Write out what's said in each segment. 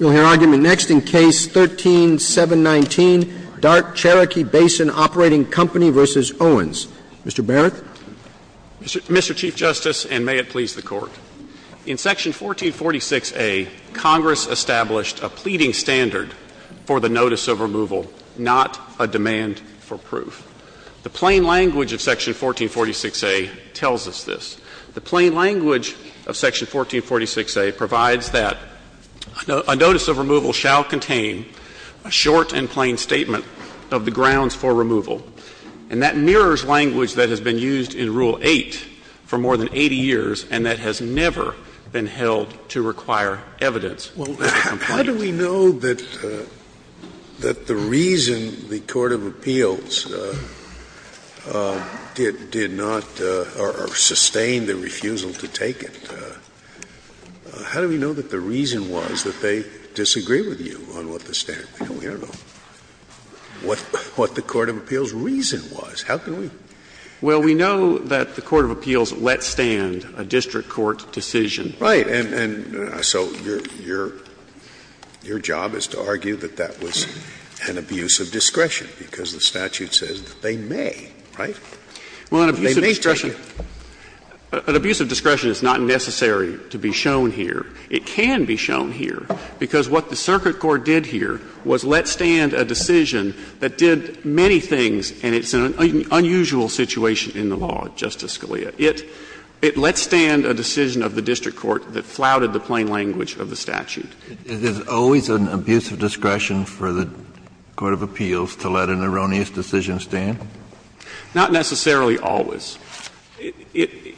We'll hear argument next in Case 13-719, Dart-Cherokee Basin Operating Company v. Owens. Mr. Barrett. Mr. Chief Justice, and may it please the Court. In Section 1446a, Congress established a pleading standard for the notice of removal, not a demand for proof. The plain language of Section 1446a tells us this. The plain language of Section 1446a provides that a notice of removal shall contain a short and plain statement of the grounds for removal. And that mirrors language that has been used in Rule 8 for more than 80 years and that has never been held to require evidence of a complaint. Scalia, how do we know that the reason the court of appeals did not or sustained the refusal to take it, how do we know that the reason was that they disagree with you on what the standard? We don't know what the court of appeals' reason was. How can we? Well, we know that the court of appeals let stand a district court decision. Right. And so your job is to argue that that was an abuse of discretion, because the statute says that they may, right? Well, an abuse of discretion is not necessary to be shown here. It can be shown here, because what the circuit court did here was let stand a decision that did many things, and it's an unusual situation in the law, Justice Scalia. It let stand a decision of the district court that flouted the plain language of the statute. Is it always an abuse of discretion for the court of appeals to let an erroneous decision stand? Not necessarily always. In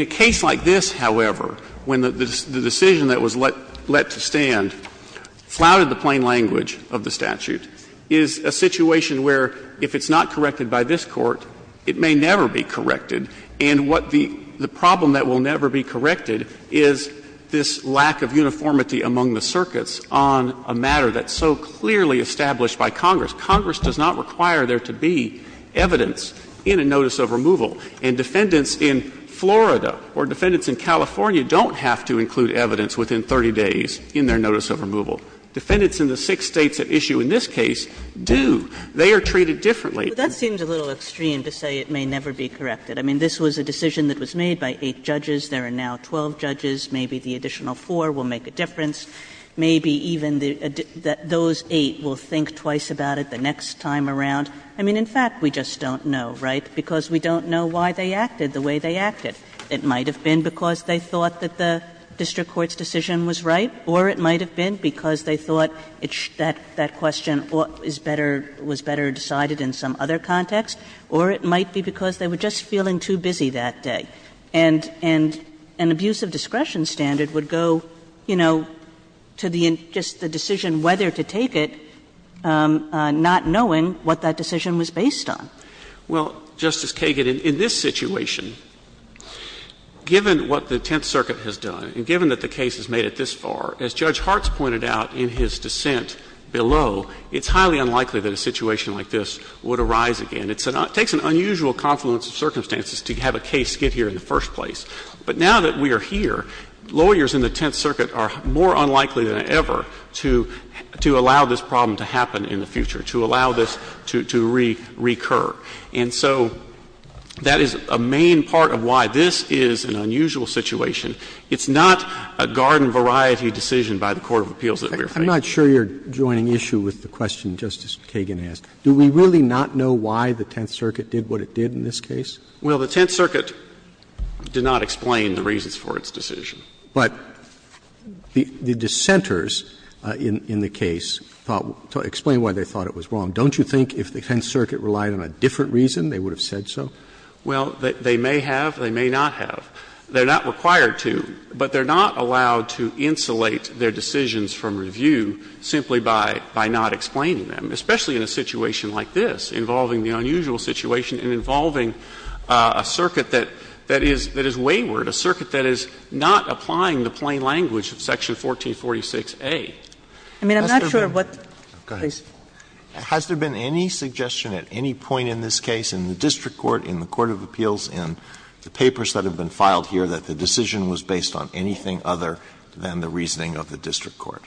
a case like this, however, when the decision that was let to stand flouted the plain language of the statute, is a situation where if it's not corrected by this Court, it may never be corrected, and what the problem that will never be corrected is this lack of uniformity among the circuits on a matter that's so clearly established by Congress. Congress does not require there to be evidence in a notice of removal, and defendants in Florida or defendants in California don't have to include evidence within 30 days in their notice of removal. Defendants in the six States at issue in this case do. They are treated differently. Kagan. That seems a little extreme to say it may never be corrected. I mean, this was a decision that was made by eight judges. There are now 12 judges. Maybe the additional four will make a difference. Maybe even the those eight will think twice about it the next time around. I mean, in fact, we just don't know, right, because we don't know why they acted the way they acted. It might have been because they thought that the district court's decision was right, or it might have been because they thought that that question is better, was better decided in some other context, or it might be because they were just feeling too busy that day. And an abuse of discretion standard would go, you know, to the just the decision whether to take it, not knowing what that decision was based on. Well, Justice Kagan, in this situation, given what the Tenth Circuit has done, and as Judge Hart's pointed out in his dissent below, it's highly unlikely that a situation like this would arise again. It takes an unusual confluence of circumstances to have a case get here in the first place. But now that we are here, lawyers in the Tenth Circuit are more unlikely than ever to allow this problem to happen in the future, to allow this to recur. And so that is a main part of why this is an unusual situation. It's not a garden-variety decision by the court of appeals that we are facing. Roberts, I'm not sure you're joining issue with the question Justice Kagan asked. Do we really not know why the Tenth Circuit did what it did in this case? Well, the Tenth Circuit did not explain the reasons for its decision. But the dissenters in the case thought to explain why they thought it was wrong. Don't you think if the Tenth Circuit relied on a different reason, they would have said so? Well, they may have, they may not have. They are not required to, but they are not allowed to insulate their decisions from review simply by not explaining them, especially in a situation like this, involving the unusual situation and involving a circuit that is wayward, a circuit that is not applying the plain language of section 1446A. I mean, I'm not sure what the case. Has there been any suggestion at any point in this case in the district court, in the court of appeals, in the papers that have been filed here, that the decision was based on anything other than the reasoning of the district court?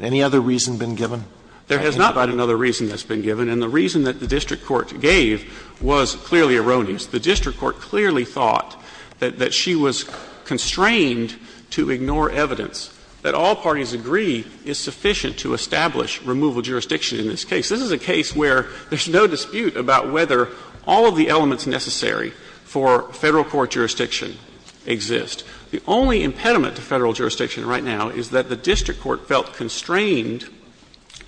Any other reason been given? There has not been another reason that's been given. And the reason that the district court gave was clearly erroneous. The district court clearly thought that she was constrained to ignore evidence, that all parties agree is sufficient to establish removal jurisdiction in this case. This is a case where there's no dispute about whether all of the elements necessary for Federal court jurisdiction exist. The only impediment to Federal jurisdiction right now is that the district court felt constrained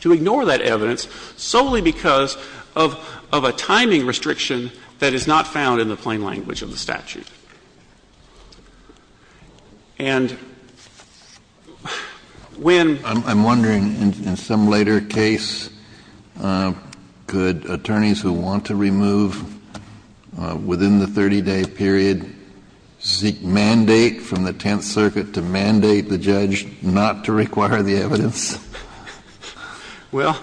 to ignore that evidence solely because of a timing restriction that is not found in the plain language of the statute. And when the district court gave the decision, the district court said, no, I'm not going to do that. Could attorneys who want to remove within the 30-day period seek mandate from the Tenth Circuit to mandate the judge not to require the evidence? Well,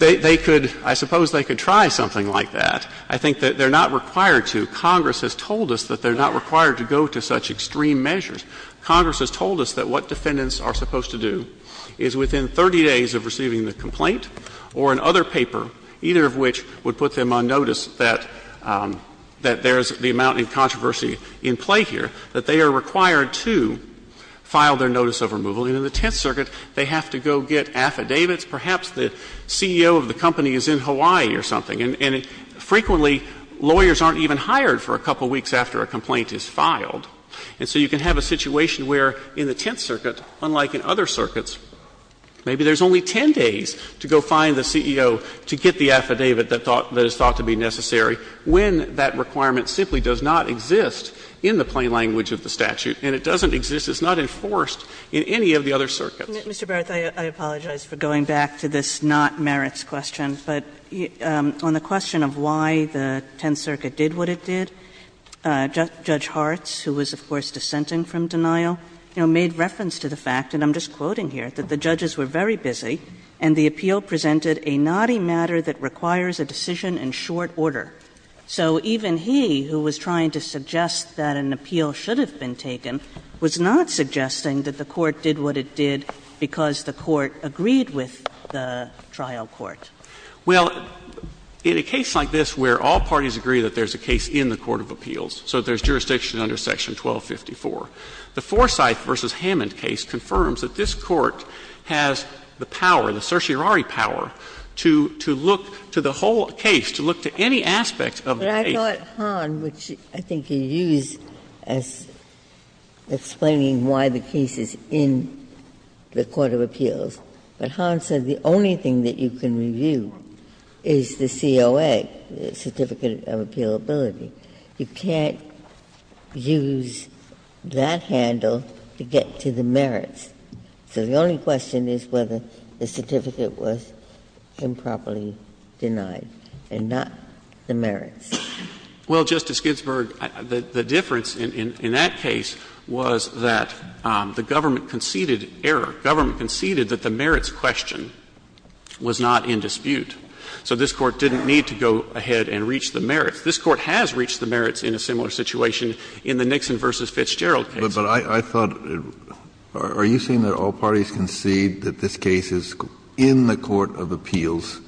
they could, I suppose they could try something like that. I think that they're not required to. Congress has told us that they're not required to go to such extreme measures. Congress has told us that what defendants are supposed to do is, within 30 days of receiving the complaint or in other paper, either of which would put them on notice that there's the amount of controversy in play here, that they are required to file their notice of removal. And in the Tenth Circuit, they have to go get affidavits. Perhaps the CEO of the company is in Hawaii or something. And frequently, lawyers aren't even hired for a couple of weeks after a complaint is filed. And so you can have a situation where in the Tenth Circuit, unlike in other circuits, maybe there's only 10 days to go find the CEO to get the affidavit that is thought to be necessary, when that requirement simply does not exist in the plain language of the statute, and it doesn't exist, it's not enforced in any of the other circuits. Mr. Barrett, I apologize for going back to this not-merits question, but on the question of why the Tenth Circuit did what it did, Judge Hartz, who was, of course, dissenting from denial, you know, made reference to the fact, and I'm just quoting here, that the judges were very busy, and the appeal presented a knotty matter that requires a decision in short order. So even he, who was trying to suggest that an appeal should have been taken, was not suggesting that the Court did what it did because the Court agreed with the trial court. Well, in a case like this where all parties agree that there's a case in the court of appeals, so there's jurisdiction under Section 1254, the Forsyth v. Hammond case confirms that this Court has the power, the certiorari power, to look to the whole case, to look to any aspect of the case. Ginsburg. But I thought Hahn, which I think he used as explaining why the case is in the court of appeals, but Hahn said the only thing that you can review is the COA, the Certificate of Appealability. You can't use that handle to get to the merits. So the only question is whether the certificate was improperly denied and not the merits. Well, Justice Ginsburg, the difference in that case was that the government conceded error. Government conceded that the merits question was not in dispute. This Court has reached the merits in a similar situation in the Nixon v. Fitzgerald case. But I thought, are you saying that all parties concede that this case is in the court of appeals,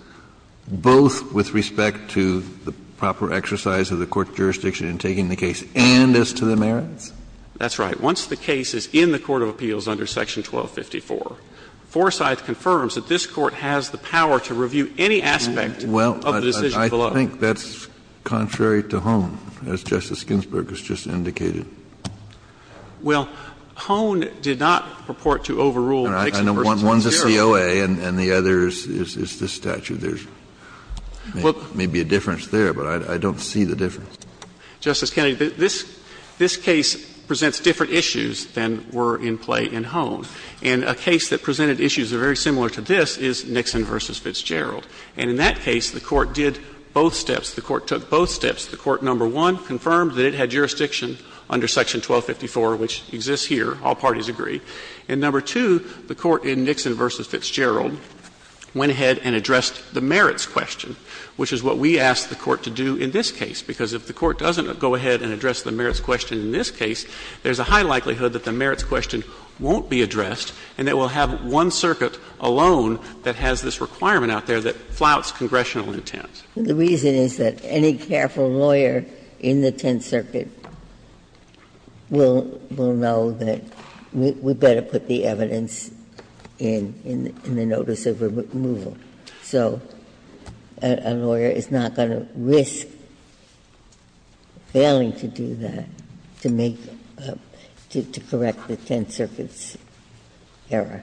both with respect to the proper exercise of the court's jurisdiction in taking the case and as to the merits? That's right. Once the case is in the court of appeals under Section 1254, Forsyth confirms that this Court has the power to review any aspect of the decision below. Kennedy, I think that's contrary to Hohn, as Justice Ginsburg has just indicated. Well, Hohn did not purport to overrule Nixon v. Fitzgerald. I know one's a COA and the other is this statute. There's maybe a difference there, but I don't see the difference. Justice Kennedy, this case presents different issues than were in play in Hohn. And a case that presented issues very similar to this is Nixon v. Fitzgerald. And in that case, the Court did both steps. The Court took both steps. The Court, number one, confirmed that it had jurisdiction under Section 1254, which exists here. All parties agree. And number two, the Court in Nixon v. Fitzgerald went ahead and addressed the merits question, which is what we asked the Court to do in this case, because if the Court doesn't go ahead and address the merits question in this case, there's a high likelihood that the merits question won't be addressed, and that we'll have one circuit alone that has this requirement out there that flouts congressional intent. The reason is that any careful lawyer in the Tenth Circuit will know that we'd better put the evidence in, in the notice of removal. So a lawyer is not going to risk failing to do that, to make the 10th Circuit's error.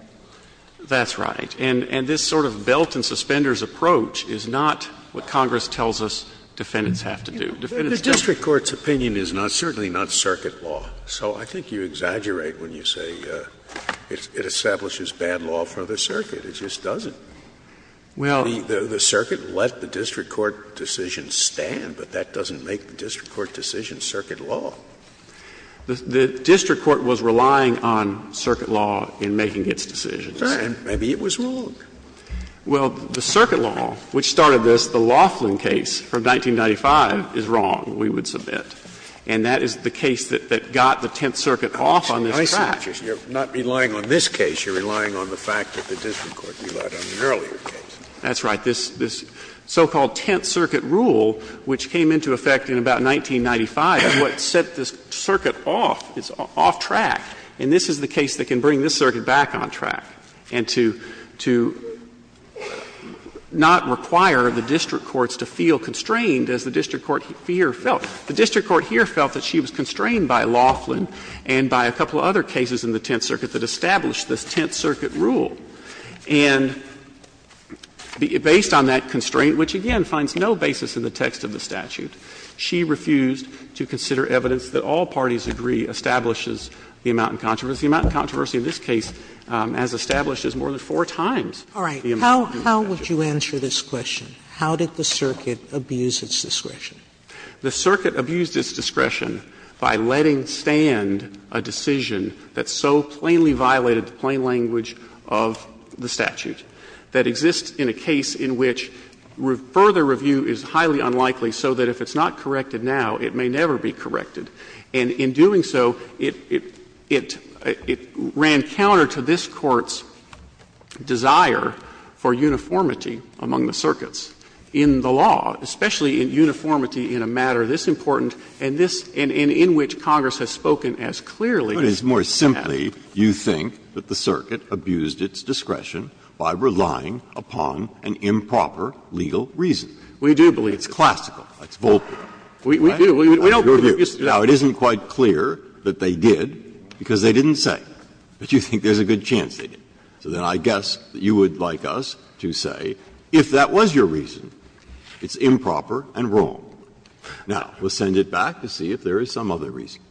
That's right. And this sort of belt and suspenders approach is not what Congress tells us defendants have to do. Defendants just don't. The district court's opinion is not, certainly not, circuit law. So I think you exaggerate when you say it establishes bad law for the circuit. It just doesn't. The circuit let the district court decision stand, but that doesn't make the district court decision circuit law. The district court was relying on circuit law in making its decisions. Sure, and maybe it was wrong. Well, the circuit law, which started this, the Laughlin case from 1995, is wrong, we would submit. And that is the case that got the Tenth Circuit off on this track. I see, you're not relying on this case, you're relying on the fact that the district court relied on an earlier case. That's right. This so-called Tenth Circuit rule, which came into effect in about 1995, is what set this circuit off, it's off track. And this is the case that can bring this circuit back on track, and to, to not require the district courts to feel constrained, as the district court here felt. The district court here felt that she was constrained by Laughlin and by a couple of other cases in the Tenth Circuit that established this Tenth Circuit rule. And based on that constraint, which again finds no basis in the text of the statute, she refused to consider evidence that all parties agree establishes the amount in controversy. The amount in controversy in this case, as established, is more than four times the amount in controversy. Sotomayor, how would you answer this question? How did the circuit abuse its discretion? The circuit abused its discretion by letting stand a decision that so plainly violated the plain language of the statute, that exists in a case in which further review is highly unlikely, so that if it's not corrected now, it may never be corrected. And in doing so, it, it, it ran counter to this Court's desire for uniformity among the circuits in the law, especially in uniformity in a matter this important and this, and in which Congress has spoken as clearly as it has. Breyer, you think that the circuit abused its discretion by relying upon an improper legal reason. We do believe that. It's classical. It's Volpe. We, we do. We don't believe it. Now, it isn't quite clear that they did, because they didn't say. But you think there's a good chance they did. So then I guess that you would like us to say, if that was your reason, it's improper and wrong. Now, we'll send it back to see if there is some other reason.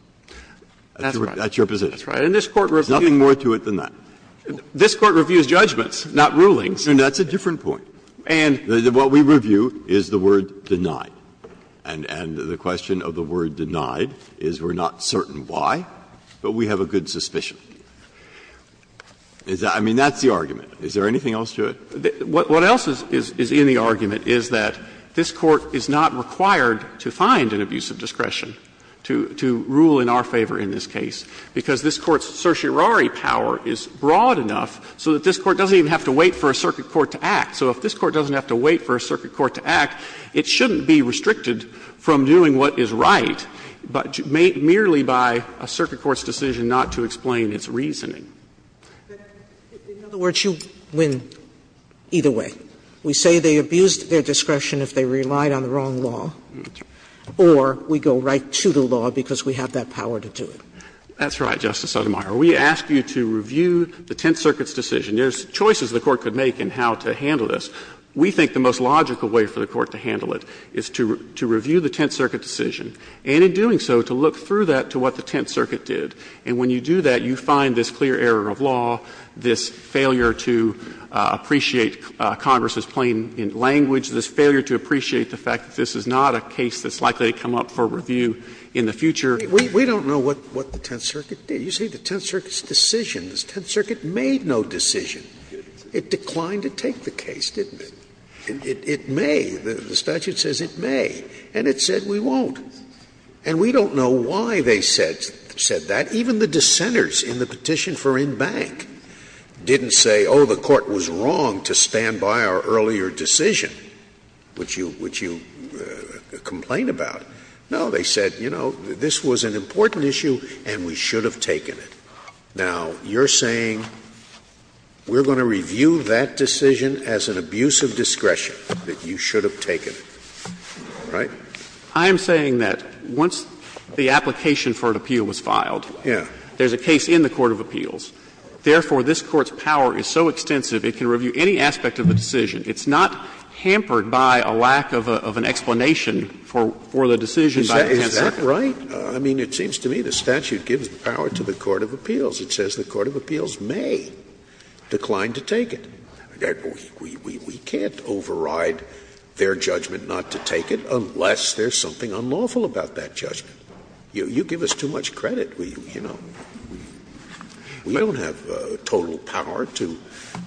That's your position. That's right. And this Court reviews. There's nothing more to it than that. This Court reviews judgments, not rulings. And that's a different point. And what we review is the word denied. And, and the question of the word denied is we're not certain why, but we have a good suspicion. Is that, I mean, that's the argument. Is there anything else to it? What else is, is in the argument is that this Court is not required to find an abuse of discretion to, to rule in our favor in this case, because this Court's certiorari power is broad enough so that this Court doesn't even have to wait for a circuit court to act. So if this Court doesn't have to wait for a circuit court to act, it shouldn't be restricted from doing what is right, but merely by a circuit court's decision not to explain its reasoning. Sotomayor, in other words, you win either way. We say they abused their discretion if they relied on the wrong law, or we go right to the law because we have that power to do it. That's right, Justice Sotomayor. We ask you to review the Tenth Circuit's decision. There's choices the Court could make in how to handle this. We think the most logical way for the Court to handle it is to, to review the Tenth Circuit decision, and in doing so, to look through that to what the Tenth Circuit did. And when you do that, you find this clear error of law, this failure to appreciate Congress's plain language, this failure to appreciate the fact that this is not a case that's likely to come up for review in the future. We don't know what the Tenth Circuit did. You see, the Tenth Circuit's decision, the Tenth Circuit made no decision. It declined to take the case, didn't it? It may, the statute says it may, and it said we won't. And we don't know why they said, said that. Even the dissenters in the petition for in-bank didn't say, oh, the Court was wrong to stand by our earlier decision, which you, which you complain about. No, they said, you know, this was an important issue and we should have taken it. Now, you're saying we're going to review that decision as an abuse of discretion, that you should have taken it, right? I am saying that once the application for an appeal was filed, there's a case in the court of appeals, therefore, this Court's power is so extensive, it can review any aspect of the decision. It's not hampered by a lack of an explanation for the decision by the Tenth Circuit. Scalia, is that right? I mean, it seems to me the statute gives power to the court of appeals. It says the court of appeals may decline to take it. We can't override their judgment not to take it unless there's something unlawful about that judgment. You give us too much credit, you know. We don't have total power to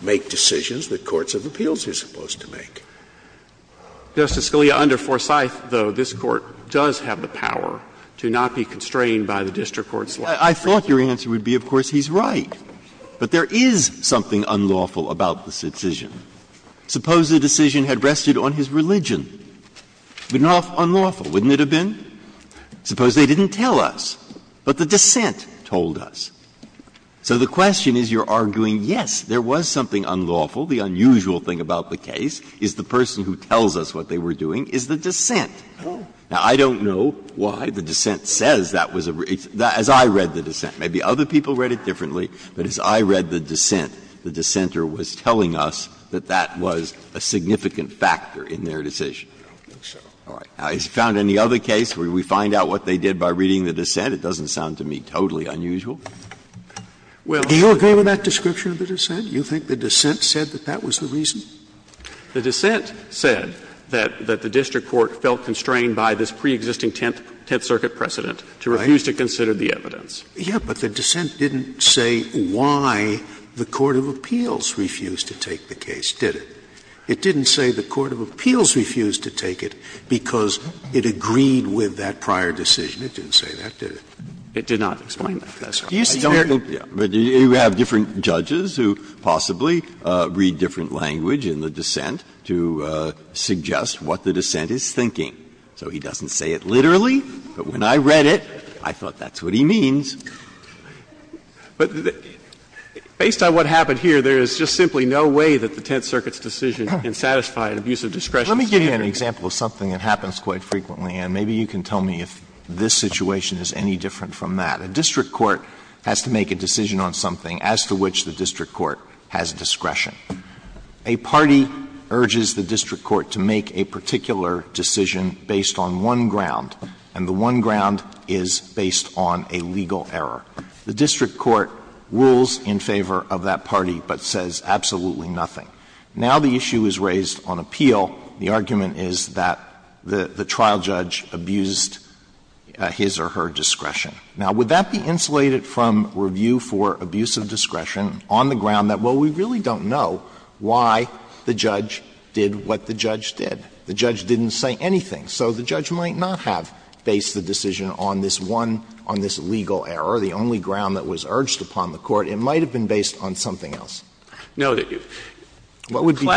make decisions that courts of appeals are supposed to make. Justice Scalia, under Forsyth, though, this Court does have the power to not be constrained by the district court's law. I thought your answer would be, of course, he's right. But there is something unlawful about this decision. Suppose the decision had rested on his religion. It would not have been unlawful, wouldn't it have been? Suppose they didn't tell us, but the dissent told us. So the question is you're arguing, yes, there was something unlawful. The unusual thing about the case is the person who tells us what they were doing is the dissent. Now, I don't know why the dissent says that was a reason, as I read the dissent. Maybe other people read it differently, but as I read the dissent, the dissenter was telling us that that was a significant factor in their decision. Now, has it found any other case where we find out what they did by reading the dissent? It doesn't sound to me totally unusual. Well, I don't think so. Scalia, do you agree with that description of the dissent? Do you think the dissent said that that was the reason? The dissent said that the district court felt constrained by this preexisting Tenth Circuit precedent to refuse to consider the evidence. Yeah, but the dissent didn't say why the court of appeals refused to take the case, did it? It didn't say the court of appeals refused to take it because it agreed with that prior decision. It didn't say that, did it? It did not explain that. That's all. Do you see where it's at? Breyer, you have different judges who possibly read different language in the dissent to suggest what the dissent is thinking. So he doesn't say it literally, but when I read it, I thought that's what he means. But based on what happened here, there is just simply no way that the Tenth Circuit's decision can satisfy an abuse of discretion standard. Let me give you an example of something that happens quite frequently, and maybe you can tell me if this situation is any different from that. A district court has to make a decision on something as to which the district court has discretion. A party urges the district court to make a particular decision based on one ground, and the one ground is based on a legal error. The district court rules in favor of that party, but says absolutely nothing. Now the issue is raised on appeal. The argument is that the trial judge abused his or her discretion. Now, would that be insulated from review for abuse of discretion on the ground that, well, we really don't know why the judge did what the judge did? The judge didn't say anything. So the judge might not have based the decision on this one, on this legal error, the only ground that was urged upon the court. It might have been based on something else. What would be the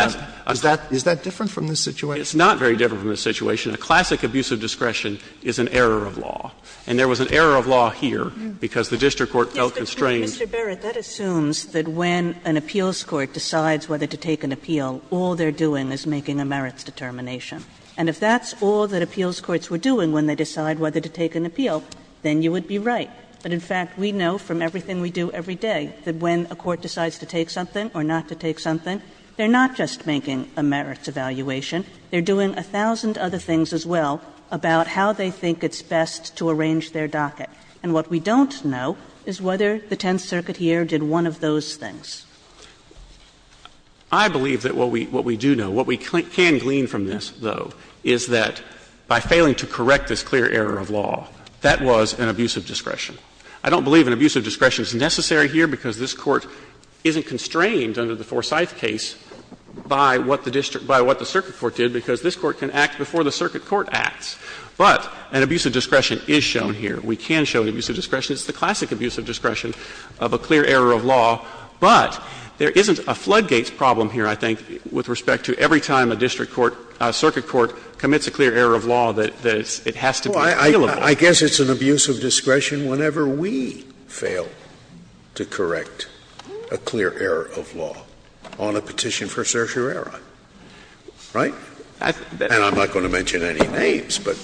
difference? Is that different from this situation? It's not very different from this situation. A classic abuse of discretion is an error of law. And there was an error of law here because the district court felt constrained. Kagan, Mr. Barrett, that assumes that when an appeals court decides whether to take an appeal, all they're doing is making a merits determination. And if that's all that appeals courts were doing when they decide whether to take an appeal, then you would be right. But in fact, we know from everything we do every day that when a court decides to take something or not to take something, they're not just making a merits evaluation, they're doing a thousand other things as well about how they think it's best to arrange their docket. And what we don't know is whether the Tenth Circuit here did one of those things. I believe that what we do know, what we can glean from this, though, is that by failing to correct this clear error of law, that was an abuse of discretion. I don't believe an abuse of discretion is necessary here because this Court isn't constrained under the Forsyth case by what the district – by what the circuit court did, because this Court can act before the circuit court acts. But an abuse of discretion is shown here. We can show an abuse of discretion. It's the classic abuse of discretion of a clear error of law. But there isn't a floodgates problem here, I think, with respect to every time a district court, a circuit court commits a clear error of law, that it has to be repealable. Scalia. I guess it's an abuse of discretion whenever we fail to correct a clear error of law on a petition for certiorari, right? And I'm not going to mention any names, but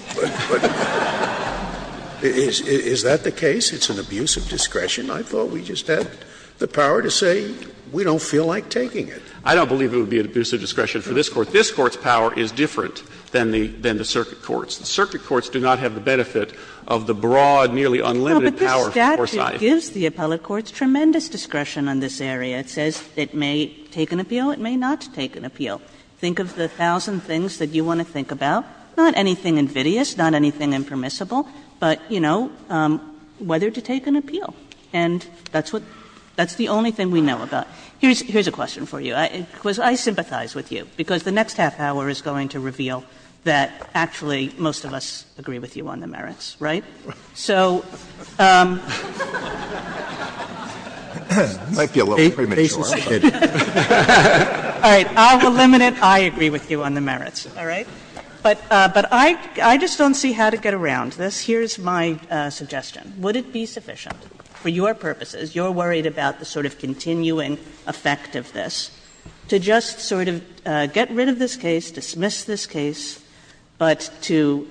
is that the case? It's an abuse of discretion? I thought we just had the power to say we don't feel like taking it. I don't believe it would be an abuse of discretion for this Court. This Court's power is different than the circuit courts. The circuit courts do not have the benefit of the broad, nearly unlimited power of Forsyth. Kagan. But this statute gives the appellate courts tremendous discretion on this area. It says it may take an appeal, it may not take an appeal. Think of the thousand things that you want to think about, not anything invidious, not anything impermissible, but, you know, whether to take an appeal. And that's what the only thing we know about. Here's a question for you. Because I sympathize with you, because the next half hour is going to reveal that actually most of us agree with you on the merits, right? So, I will limit it. I agree with you on the merits, all right? But I just don't see how to get around this. Here's my suggestion. Would it be sufficient? For your purposes, you're worried about the sort of continuing effect of this, to just sort of get rid of this case, dismiss this case, but to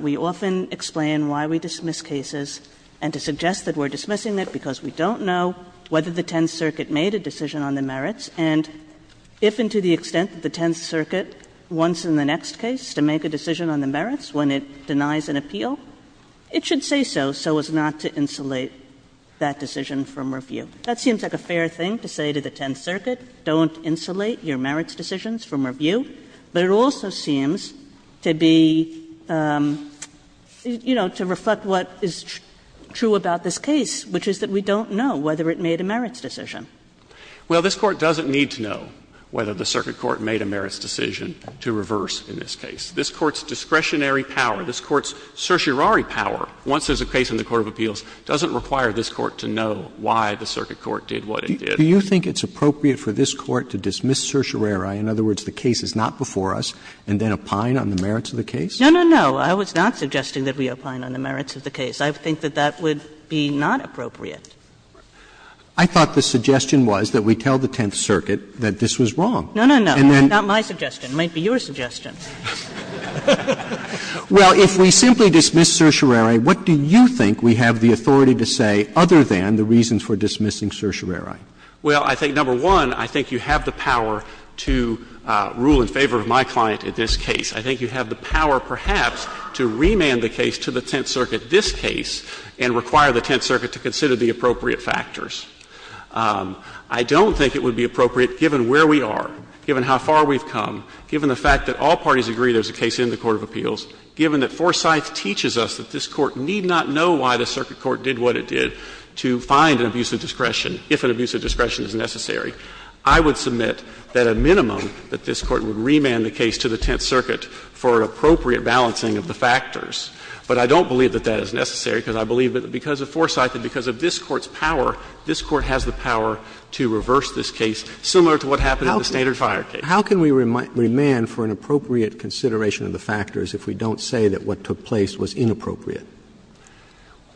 we often explain why we dismiss cases and to suggest that we're dismissing it because we don't know whether the Tenth Circuit made a decision on the merits, and if and to the extent that the Tenth Circuit wants in the next case to make a decision on the merits when it denies an appeal, it should say so, so as not to insulate that decision from review. That seems like a fair thing to say to the Tenth Circuit, don't insulate your merits decisions from review, but it also seems to be, you know, to reflect what is true about this case, which is that we don't know whether it made a merits decision. Well, this Court doesn't need to know whether the circuit court made a merits decision to reverse in this case. This Court's discretionary power, this Court's certiorari power, once there's a case in the court of appeals, doesn't require this Court to know why the circuit court did what it did. Roberts. Do you think it's appropriate for this Court to dismiss certiorari, in other words, the case is not before us, and then opine on the merits of the case? No, no, no. I was not suggesting that we opine on the merits of the case. I think that that would be not appropriate. I thought the suggestion was that we tell the Tenth Circuit that this was wrong. No, no, no, not my suggestion. It might be your suggestion. Well, if we simply dismiss certiorari, what do you think we have the authority to say other than the reasons for dismissing certiorari? Well, I think, number one, I think you have the power to rule in favor of my client in this case. I think you have the power, perhaps, to remand the case to the Tenth Circuit, this case, and require the Tenth Circuit to consider the appropriate factors. I don't think it would be appropriate, given where we are, given how far we've come, given the fact that all parties agree there's a case in the court of appeals, given that Forsyth teaches us that this Court need not know why the circuit court did what it did to find an abuse of discretion, if an abuse of discretion is necessary, I would submit that a minimum that this Court would remand the case to the Tenth Circuit for appropriate balancing of the factors. But I don't believe that that is necessary, because I believe that because of Forsyth and because of this Court's power, this Court has the power to reverse this case, similar to what happened in the standard fire case. Roberts, how can we remand for an appropriate consideration of the factors if we don't say that what took place was inappropriate?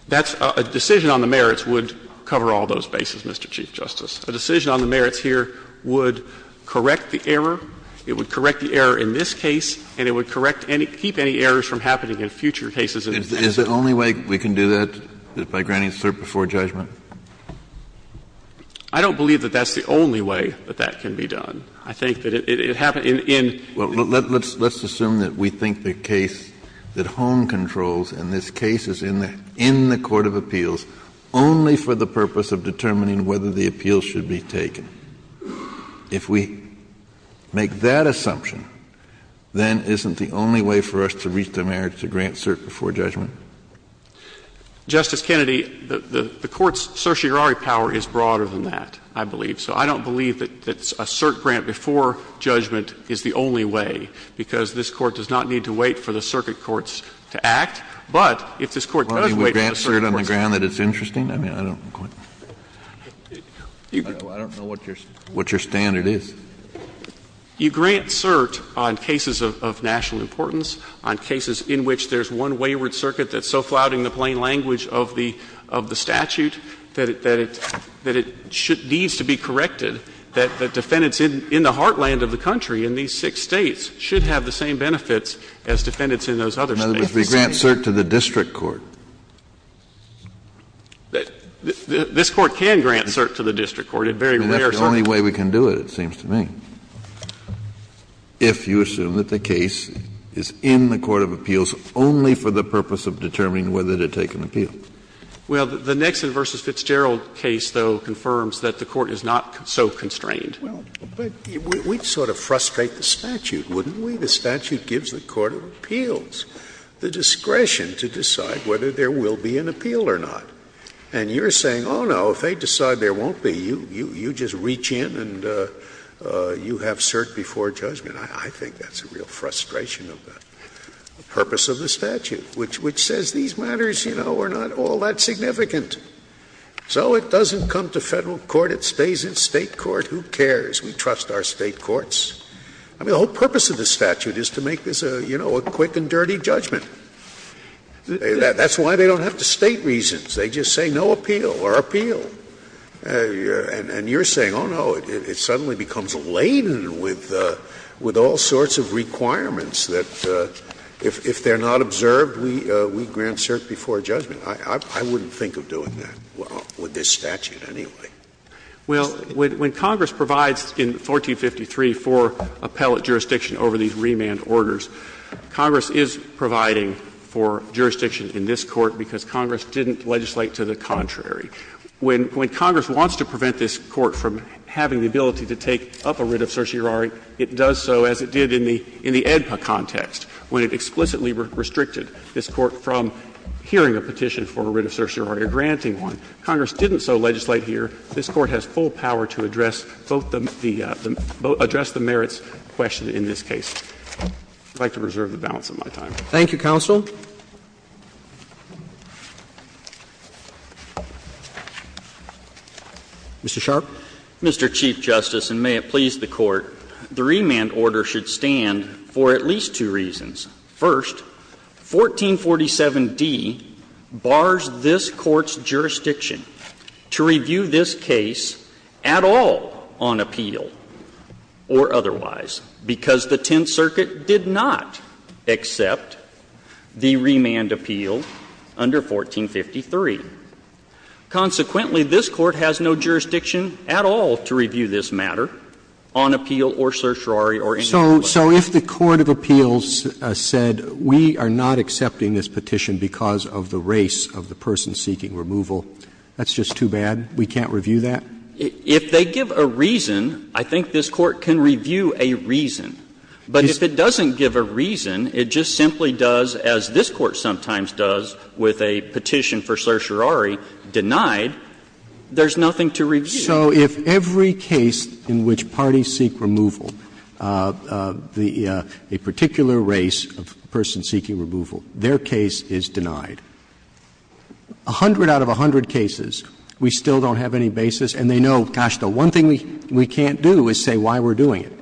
That's a decision on the merits would cover all those bases, Mr. Chief Justice. A decision on the merits here would correct the error. It would correct the error in this case, and it would correct any – keep any errors from happening in future cases. Kennedy is the only way we can do that, by granting cert before judgment? I don't believe that that's the only way that that can be done. I think that it happened in – in – Well, let's assume that we think the case that Hohn controls in this case is in the court of appeals only for the purpose of determining whether the appeal should be taken. If we make that assumption, then isn't the only way for us to reach the merits to grant cert before judgment? Justice Kennedy, the Court's certiorari power is broader than that, I believe. So I don't believe that a cert grant before judgment is the only way, because this Court does not need to wait for the circuit courts to act. But if this Court does wait for the circuit courts to act to act, then it's not a way to do it. Well, do you grant cert on the ground that it's interesting? I mean, I don't quite – I don't know what your standard is. You grant cert on cases of national importance, on cases in which there's one wayward circuit that's so flouting the plain language of the – of the statute that it – that it needs to be corrected, that defendants in the heartland of the country, in these six States, should have the same benefits as defendants in those other States. In other words, we grant cert to the district court. This Court can grant cert to the district court. It's very rare. I mean, that's the only way we can do it, it seems to me. Kennedy, if you assume that the case is in the court of appeals only for the purpose of determining whether to take an appeal. Well, the Nixon v. Fitzgerald case, though, confirms that the Court is not so constrained. Well, but we'd sort of frustrate the statute, wouldn't we? The statute gives the court of appeals the discretion to decide whether there will be an appeal or not. And you're saying, oh, no, if they decide there won't be, you just reach in and you have cert before judgment. I think that's a real frustration of the purpose of the statute, which says these matters, you know, are not all that significant. So it doesn't come to Federal court. It stays in State court. Who cares? We trust our State courts. I mean, the whole purpose of the statute is to make this, you know, a quick and dirty judgment. That's why they don't have the State reasons. They just say no appeal or appeal. And you're saying, oh, no, it suddenly becomes laden with all sorts of requirements that if they're not observed, we grant cert before judgment. I wouldn't think of doing that with this statute anyway. Well, when Congress provides in 1453 for appellate jurisdiction over these remand orders, Congress is providing for jurisdiction in this Court because Congress didn't legislate to the contrary. When Congress wants to prevent this Court from having the ability to take up a writ of certiorari, it does so as it did in the EDPA context, when it explicitly restricted this Court from hearing a petition for a writ of certiorari or granting one. Congress didn't so legislate here. This Court has full power to address both the merits question in this case. I would like to reserve the balance of my time. Thank you, counsel. Mr. Sharpe. Mr. Chief Justice, and may it please the Court, the remand order should stand for at least two reasons. First, 1447d bars this Court's jurisdiction to review this case at all on appeal or otherwise, because the Tenth Circuit did not accept the remand appeal under 1453. Consequently, this Court has no jurisdiction at all to review this matter on appeal or certiorari or any other way. So if the court of appeals said, we are not accepting this petition because of the race of the person seeking removal, that's just too bad, we can't review that? If they give a reason, I think this Court can review a reason. But if it doesn't give a reason, it just simply does, as this Court sometimes does with a petition for certiorari denied, there's nothing to review. So if every case in which parties seek removal, a particular race of person seeking removal, their case is denied, a hundred out of a hundred cases, we still don't have any basis, and they know, gosh, the one thing we can't do is say why we're doing it.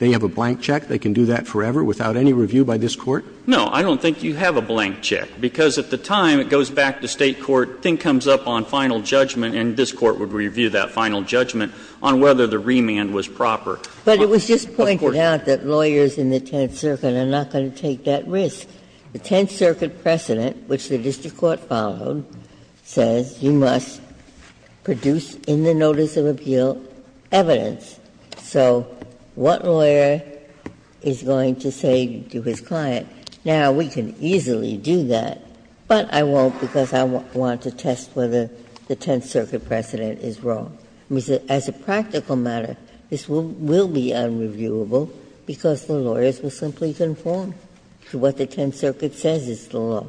They have a blank check, they can do that forever without any review by this Court? No, I don't think you have a blank check, because at the time, it goes back to State court, thing comes up on final judgment, and this Court would review that final judgment on whether the remand was proper. But it was just pointed out that lawyers in the Tenth Circuit are not going to take that risk. The Tenth Circuit precedent, which the district court followed, says you must produce in the notice of appeal evidence. So what lawyer is going to say to his client, now, we can easily do that, but I won't because I want to test whether the Tenth Circuit precedent is wrong. As a practical matter, this will be unreviewable because the lawyers will simply conform to what the Tenth Circuit says is the law.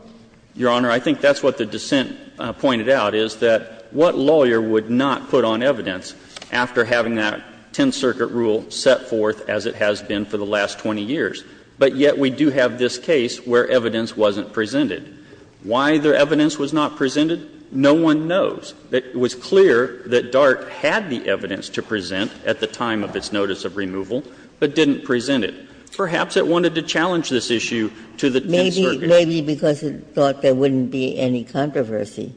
Your Honor, I think that's what the dissent pointed out, is that what lawyer would not put on evidence after having that Tenth Circuit rule set forth as it has been for the last 20 years? But yet we do have this case where evidence wasn't presented. Why the evidence was not presented, no one knows. It was clear that DART had the evidence to present at the time of its notice of removal, but didn't present it. Perhaps it wanted to challenge this issue to the Tenth Circuit. Ginsburg. Maybe because it thought there wouldn't be any controversy.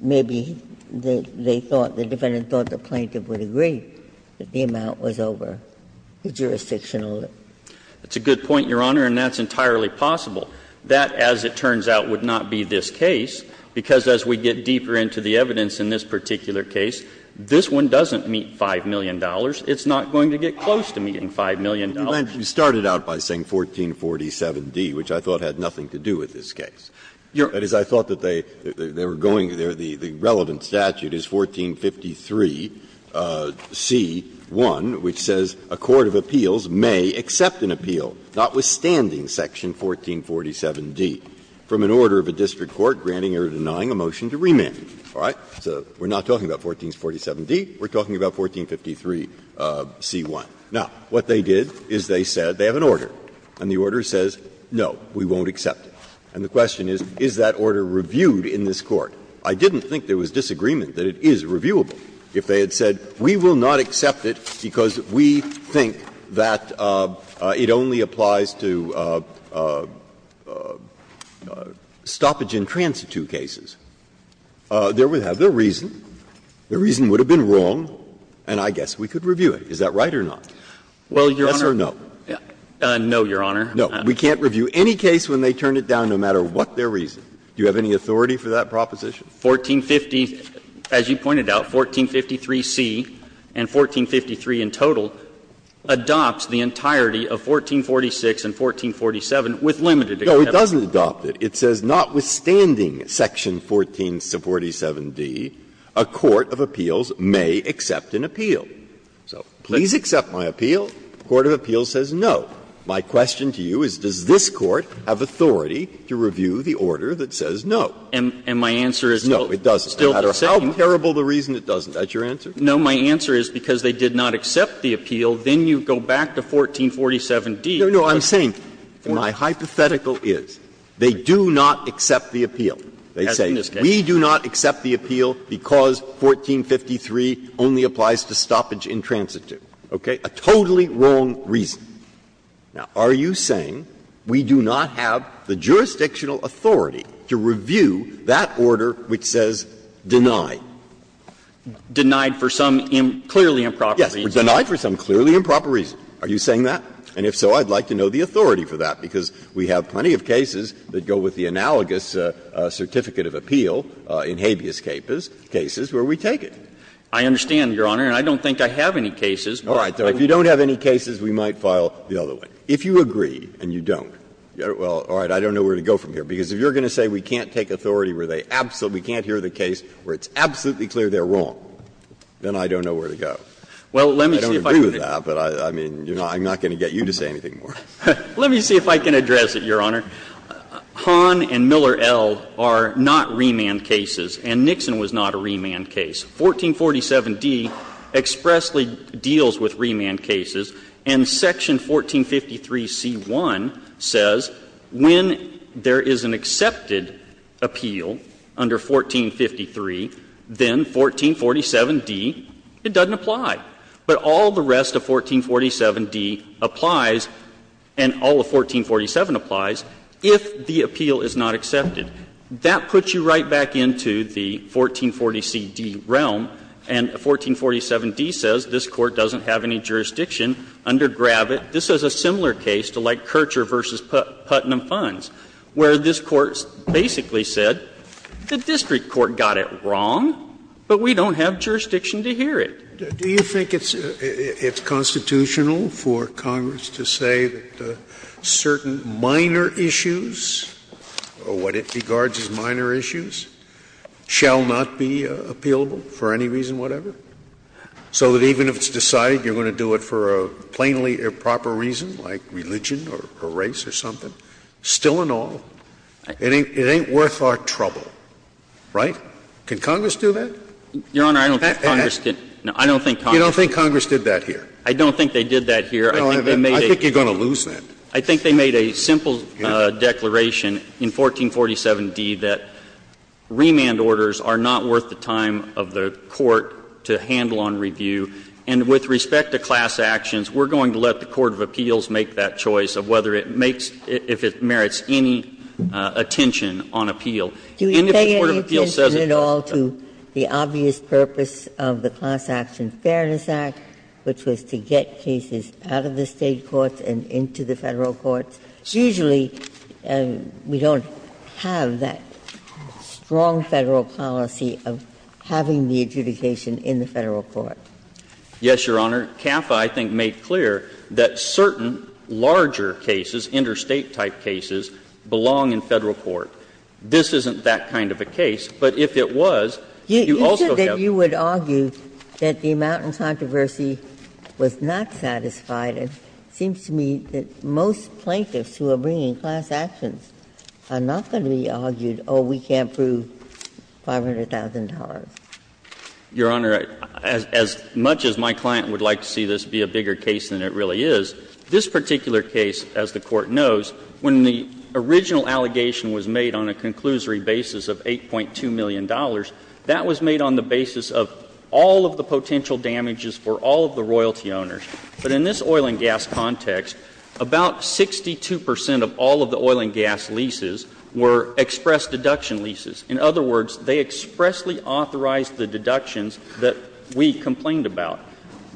Maybe they thought, the defendant thought the plaintiff would agree that the amount was over the jurisdictional limit. That's a good point, Your Honor, and that's entirely possible. That, as it turns out, would not be this case, because as we get deeper into the evidence in this particular case, this one doesn't meet $5 million. It's not going to get close to meeting $5 million. Breyer. You started out by saying 1447d, which I thought had nothing to do with this case. That is, I thought that they were going there, the relevant statute is 1453c1, which says a court of appeals may accept an appeal, notwithstanding section 1447d, from an order of a district court granting or denying a motion to remand. All right? So we're not talking about 1447d. We're talking about 1453c1. Now, what they did is they said they have an order, and the order says, no, we won't accept it. And the question is, is that order reviewed in this Court? I didn't think there was disagreement that it is reviewable. If they had said, we will not accept it because we think that it only applies to stoppage-in-transit two cases, there would have been reason. Their reason would have been wrong, and I guess we could review it. Is that right or not? Yes or no? No, Your Honor. No. We can't review any case when they turn it down, no matter what their reason. Do you have any authority for that proposition? 1450, as you pointed out, 1453c and 1453 in total adopts the entirety of 1446 and 1447 with limited exception. No, it doesn't adopt it. It says, notwithstanding section 1447d, a court of appeals may accept an appeal. So please accept my appeal. The court of appeals says no. My question to you is, does this Court have authority to review the order that says no? And my answer is, no, it doesn't, no matter how terrible the reason, it doesn't. Is that your answer? No, my answer is because they did not accept the appeal, then you go back to 1447d. No, no, I'm saying, my hypothetical is they do not accept the appeal. They say we do not accept the appeal because 1453 only applies to stoppage in transit, okay, a totally wrong reason. Now, are you saying we do not have the jurisdictional authority to review that order which says deny? Denied for some clearly improper reason. Yes, denied for some clearly improper reason. Are you saying that? And if so, I'd like to know the authority for that, because we have plenty of cases that go with the analogous certificate of appeal in habeas capus, cases where we take it. I understand, Your Honor, and I don't think I have any cases. All right. If you don't have any cases, we might file the other one. If you agree and you don't, well, all right, I don't know where to go from here. Because if you're going to say we can't take authority where they absolutely can't hear the case where it's absolutely clear they're wrong, then I don't know where to go. Well, let me see if I can agree with that. But, I mean, you know, I'm not going to get you to say anything more. Let me see if I can address it, Your Honor. Hahn and Miller L. are not remand cases, and Nixon was not a remand case. 1447d expressly deals with remand cases, and section 1453c1 says when there is an accepted appeal under 1453, then 1447d, it doesn't apply. But all the rest of 1447d applies, and all of 1447 applies, if the appeal is not accepted. That puts you right back into the 1440cd realm, and 1447d says this Court doesn't have any jurisdiction under Gravitt. This is a similar case to, like, Kircher v. Putnam Funds, where this Court basically said the district court got it wrong, but we don't have jurisdiction to hear it. Do you think it's constitutional for Congress to say that certain minor issues, or what it regards as minor issues, shall not be appealable for any reason, whatever? So that even if it's decided you're going to do it for a plainly improper reason, like religion or race or something, still and all, it ain't worth our trouble, right? Can Congress do that? Your Honor, I don't think Congress can. No, I don't think Congress can. You don't think Congress did that here? I don't think they did that here. I think they made a simple declaration in 1447d that remand orders are not worth the time of the court to handle on review, and with respect to class actions, we're going to let the court of appeals make that choice of whether it makes, if it merits any attention on appeal. Do we pay any attention at all to the obvious purpose of the Class Action Fairness Act, which was to get cases out of the State courts and into the Federal courts? Usually, we don't have that strong Federal policy of having the adjudication in the Federal court. Yes, Your Honor. CAFA, I think, made clear that certain larger cases, interstate-type cases, belong in Federal court. This isn't that kind of a case. But if it was, you also have to be careful. You said that you would argue that the amount in controversy was not satisfied. It seems to me that most plaintiffs who are bringing class actions are not going to be argued, oh, we can't prove $500,000. Your Honor, as much as my client would like to see this be a bigger case than it really is, this particular case, as the Court knows, when the original allegation was made on a conclusory basis of $8.2 million, that was made on the basis of all of the potential damages for all of the royalty owners. But in this oil and gas context, about 62 percent of all of the oil and gas leases were express deduction leases. In other words, they expressly authorized the deductions that we complained about.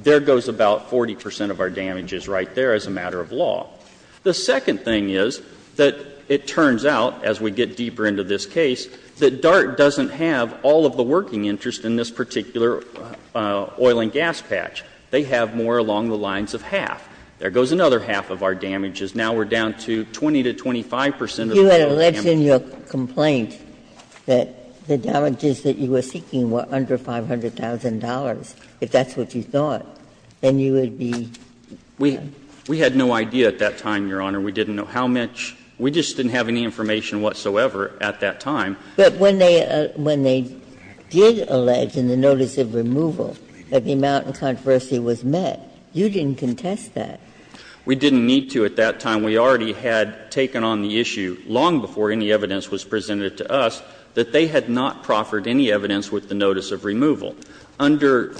There goes about 40 percent of our damages right there as a matter of law. The second thing is that it turns out, as we get deeper into this case, that DART doesn't have all of the working interest in this particular oil and gas patch. They have more along the lines of half. There goes another half of our damages. Now we're down to 20 to 25 percent of the oil and gas damage. Ginsburg, you had alleged in your complaint that the damages that you were seeking were under $500,000, if that's what you thought. Then you would be the one. We had no idea at that time, Your Honor. We didn't know how much. We just didn't have any information whatsoever at that time. But when they did allege in the notice of removal that the amount in controversy was met, you didn't contest that. We didn't need to at that time. We already had taken on the issue long before any evidence was presented to us that they had not proffered any evidence with the notice of removal. Under the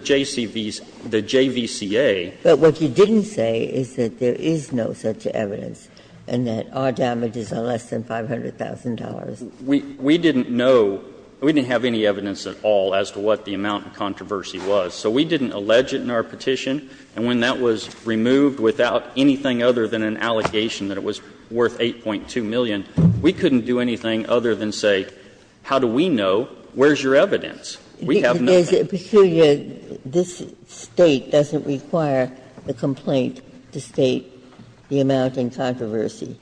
JCVs, the JVCA. But what you didn't say is that there is no such evidence, and that our damages are less than $500,000. We didn't know. We didn't have any evidence at all as to what the amount in controversy was. So we didn't allege it in our petition, and when that was removed without anything other than an allegation that it was worth $8.2 million, we couldn't do anything other than say, how do we know, where is your evidence? We have no evidence. Ginsburg. This State doesn't require the complaint to state the amount in controversy.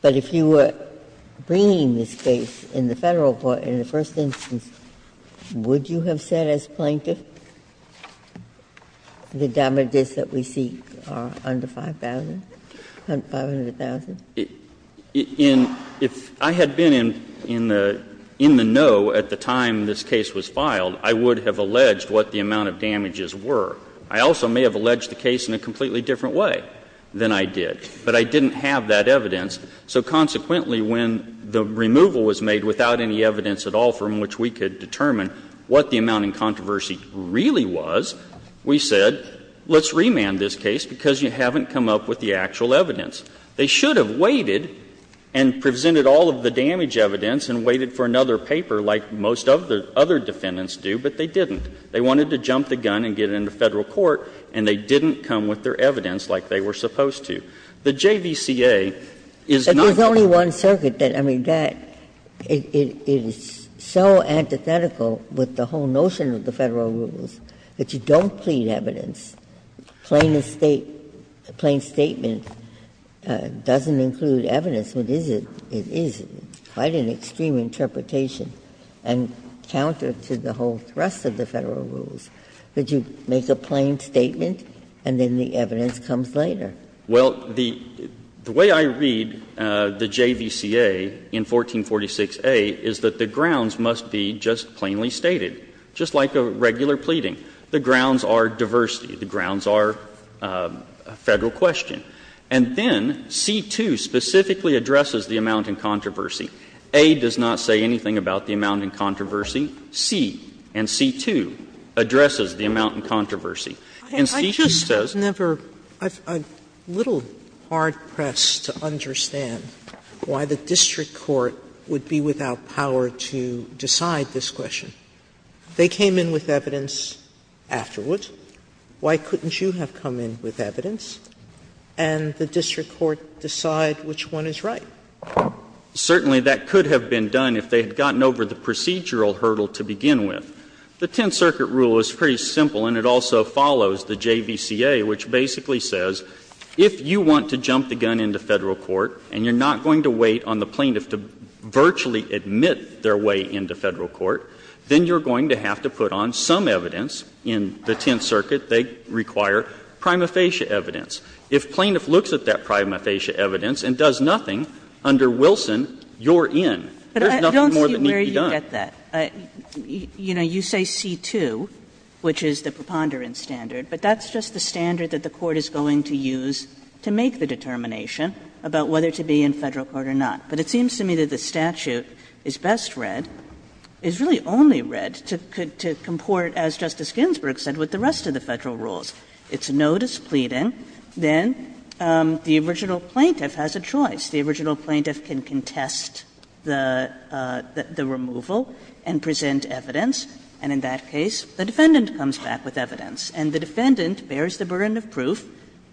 But if you were bringing this case in the Federal court in the first instance, would you have said as plaintiff, the damages that we seek are under $500,000? $500,000? If I had been in the know at the time this case was filed, I would have alleged what the amount of damages were. I also may have alleged the case in a completely different way than I did. But I didn't have that evidence. So consequently, when the removal was made without any evidence at all from which we could determine what the amount in controversy really was, we said, let's remand this case, because you haven't come up with the actual evidence. They should have waited and presented all of the damage evidence and waited for another paper like most of the other defendants do, but they didn't. They wanted to jump the gun and get into Federal court, and they didn't come with their evidence like they were supposed to. The JVCA is not going to do that. Ginsburg. But there's only one circuit that, I mean, that is so antithetical with the whole plea evidence, plain statement doesn't include evidence, which is, it is quite an extreme interpretation and counter to the whole thrust of the Federal rules, that you make a plain statement and then the evidence comes later. Well, the way I read the JVCA in 1446a is that the grounds must be just plainly stated, just like a regular pleading. The grounds are diversity. The grounds are a Federal question. And then C-2 specifically addresses the amount in controversy. A does not say anything about the amount in controversy. C and C-2 addresses the amount in controversy. And C just says the amount in controversy. Sotomayor, I've never, I'm a little hard-pressed to understand why the district court would be without power to decide this question. They came in with evidence afterward. Why couldn't you have come in with evidence and the district court decide which one is right? Certainly, that could have been done if they had gotten over the procedural hurdle to begin with. The Tenth Circuit rule is pretty simple, and it also follows the JVCA, which basically says, if you want to jump the gun into Federal court and you're not going to wait on the plaintiff to virtually admit their way into Federal court, then you're going to have to put on some evidence in the Tenth Circuit. They require prima facie evidence. If plaintiff looks at that prima facie evidence and does nothing, under Wilson, you're in. There's nothing more that needs to be done. Kagan. Kagan. You say C-2, which is the preponderance standard, but that's just the standard that the Court is going to use to make the determination about whether to be in Federal court or not. But it seems to me that the statute is best read, is really only read to comport, as Justice Ginsburg said, with the rest of the Federal rules. It's no displeading. Then the original plaintiff has a choice. The original plaintiff can contest the removal and present evidence, and in that case, the defendant comes back with evidence, and the defendant bears the burden of proof,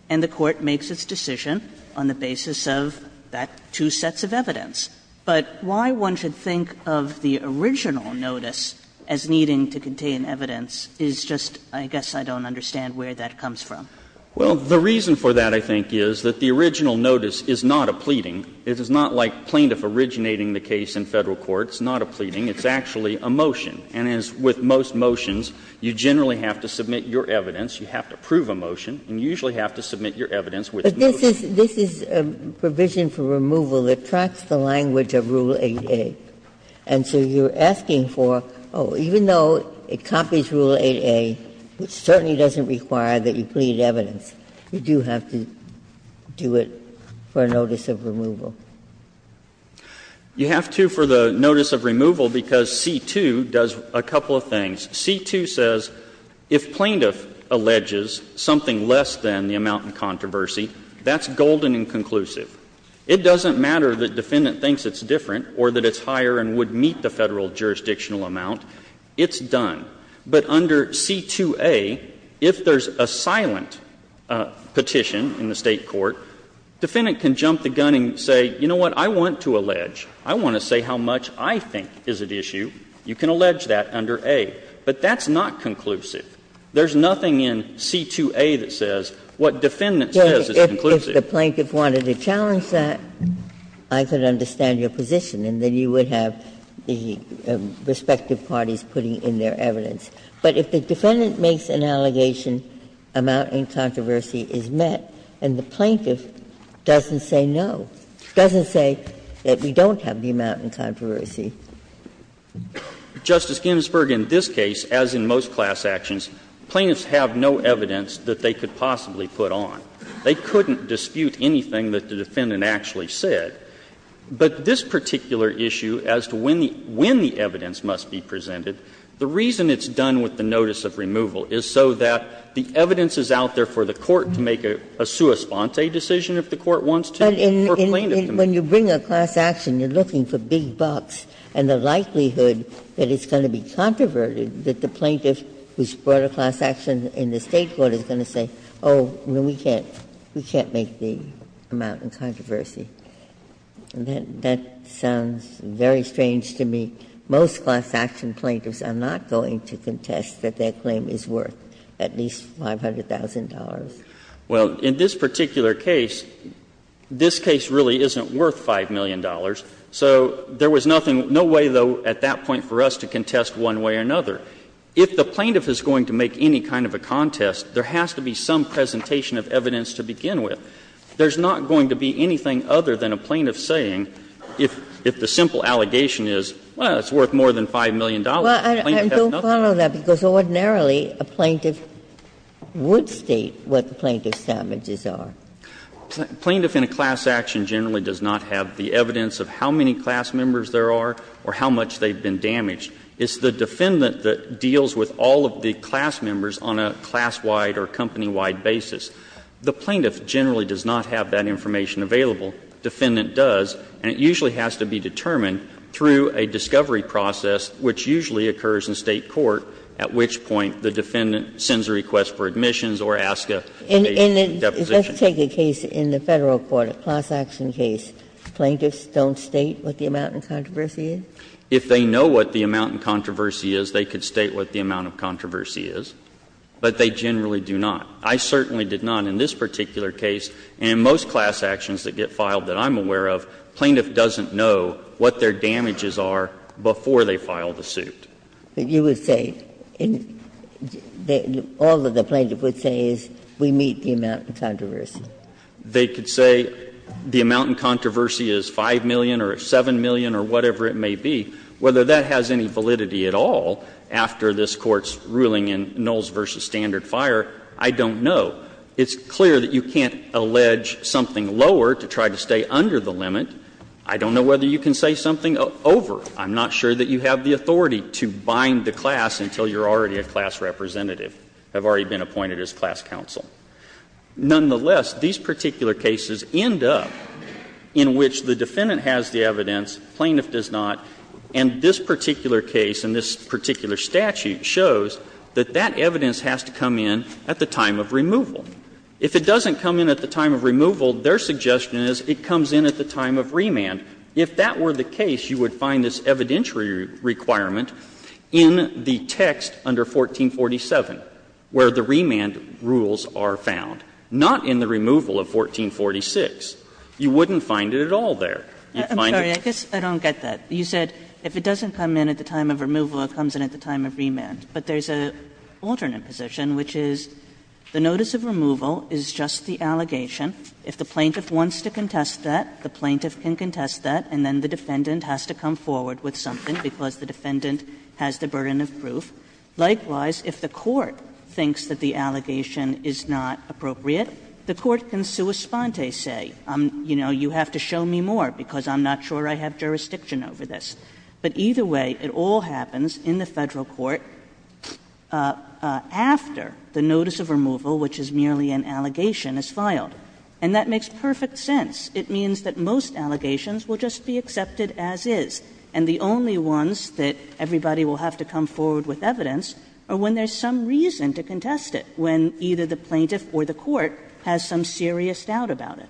and the Court makes its decision on the basis of that two sets of evidence. But why one should think of the original notice as needing to contain evidence is just, I guess I don't understand where that comes from. Well, the reason for that, I think, is that the original notice is not a pleading. It is not like plaintiff originating the case in Federal court. It's not a pleading. It's actually a motion. And as with most motions, you generally have to submit your evidence, you have to prove a motion, and you usually have to submit your evidence with notice. Ginsburg But this is a provision for removal that tracks the language of Rule 8a. And so you're asking for, oh, even though it copies Rule 8a, which certainly doesn't require that you plead evidence, you do have to do it for a notice of removal. You have to for the notice of removal because C-2 does a couple of things. C-2 says if plaintiff alleges something less than the amount in controversy, that's golden and conclusive. It doesn't matter that defendant thinks it's different or that it's higher and would meet the Federal jurisdictional amount. It's done. But under C-2a, if there's a silent petition in the State court, defendant can jump the gun and say, you know what, I want to allege, I want to say how much I think is at issue, you can allege that under A. But that's not conclusive. There's nothing in C-2a that says what defendant says is conclusive. Ginsburg If the plaintiff wanted to challenge that, I could understand your position, and then you would have the respective parties putting in their evidence. But if the defendant makes an allegation, amount in controversy is met, and the plaintiff doesn't say no, doesn't say that we don't have the amount in controversy. McAllister Justice Ginsburg, in this case, as in most class actions, plaintiffs have no evidence that they could possibly put on. They couldn't dispute anything that the defendant actually said. But this particular issue as to when the evidence must be presented, the reason it's done with the notice of removal is so that the evidence is out there for the plaintiff. Ginsburg When you bring a class action, you're looking for big bucks, and the likelihood that it's going to be controverted, that the plaintiff who's brought a class action in the State court is going to say, oh, we can't, we can't make the amount in controversy. That sounds very strange to me. Most class action plaintiffs are not going to contest that their claim is worth at least $500,000. McAllister Well, in this particular case, this case really isn't worth $5 million. So there was nothing, no way, though, at that point for us to contest one way or another. If the plaintiff is going to make any kind of a contest, there has to be some presentation of evidence to begin with. There's not going to be anything other than a plaintiff saying, if the simple allegation is, well, it's worth more than $5 million. Ginsburg Well, I don't follow that, because ordinarily a plaintiff would state what the plaintiff's damages are. McAllister Plaintiff in a class action generally does not have the evidence of how many class members there are or how much they've been damaged. It's the defendant that deals with all of the class members on a class-wide or company-wide basis. The plaintiff generally does not have that information available. Defendant does, and it usually has to be determined through a discovery process, which usually occurs in State court, at which point the defendant sends a request for admissions or asks a case for deposition. Ginsburg And let's take a case in the Federal court, a class action case. Plaintiffs don't state what the amount in controversy is? McAllister If they know what the amount in controversy is, they could state what the amount of controversy is, but they generally do not. I certainly did not in this particular case. And in most class actions that get filed that I'm aware of, plaintiff doesn't know what their damages are before they file the suit. Ginsburg But you would say, all that the plaintiff would say is, we meet the amount in controversy. McAllister They could say the amount in controversy is 5 million or 7 million or whatever it may be. Whether that has any validity at all after this Court's ruling in Nulls v. Standard Fire, I don't know. It's clear that you can't allege something lower to try to stay under the limit. I don't know whether you can say something over. I'm not sure that you have the authority to bind the class until you're already a class representative, have already been appointed as class counsel. Nonetheless, these particular cases end up in which the defendant has the evidence, plaintiff does not, and this particular case and this particular statute shows that that evidence has to come in at the time of removal. If it doesn't come in at the time of removal, their suggestion is it comes in at the time of remand. If that were the case, you would find this evidentiary requirement in the text under 1447, where the remand rules are found, not in the removal of 1446. You wouldn't find it at all there. You'd find it. Kagan I'm sorry, I guess I don't get that. You said if it doesn't come in at the time of removal, it comes in at the time of remand. But there's an alternate position, which is the notice of removal is just the allegation. If the plaintiff wants to contest that, the plaintiff can contest that, and then the defendant has to come forward with something because the defendant has the burden of proof. Likewise, if the court thinks that the allegation is not appropriate, the court can sua sponte say, you know, you have to show me more because I'm not sure I have jurisdiction over this. But either way, it all happens in the Federal court after the notice of removal, which is merely an allegation, is filed. And that makes perfect sense. It means that most allegations will just be accepted as is. And the only ones that everybody will have to come forward with evidence are when there's some reason to contest it, when either the plaintiff or the court has some serious doubt about it.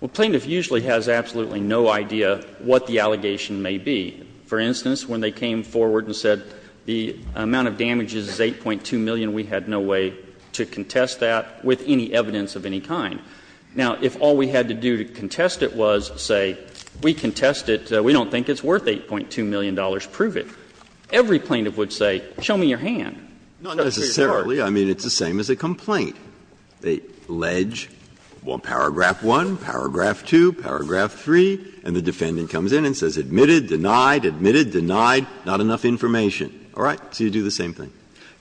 Well, plaintiff usually has absolutely no idea what the allegation may be. For instance, when they came forward and said the amount of damages is 8.2 million, we had no way to contest that with any evidence of any kind. Now, if all we had to do to contest it was say, we contest it, we don't think it's worth $8.2 million, prove it, every plaintiff would say, show me your hand. Breyer. Not necessarily. I mean, it's the same as a complaint. They allege, well, paragraph 1, paragraph 2, paragraph 3, and the defendant comes in and says admitted, denied, admitted, denied, not enough information. All right? So you do the same thing.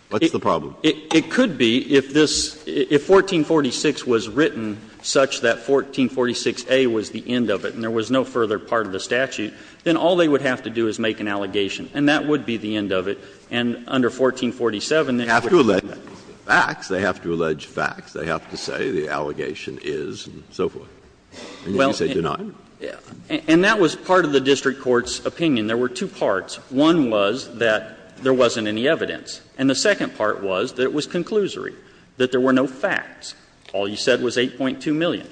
What's the problem? It could be, if this, if 1446 was written such that 1446a was the end of it and there was no further part of the statute, then all they would have to do is make an allegation, and that would be the end of it, and under 1447, then you would see that. They have to allege facts. They have to say the allegation is, and so forth. And then you say denied. And that was part of the district court's opinion. There were two parts. One was that there wasn't any evidence. And the second part was that it was conclusory, that there were no facts. All you said was 8.2 million.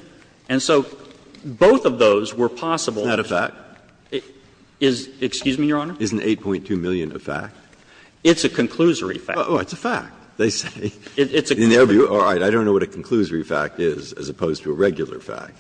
And so both of those were possible. Breyer. Isn't that a fact? Is, excuse me, Your Honor? Isn't 8.2 million a fact? It's a conclusory fact. Oh, it's a fact. They say. In their view, all right, I don't know what a conclusory fact is as opposed to a regular fact.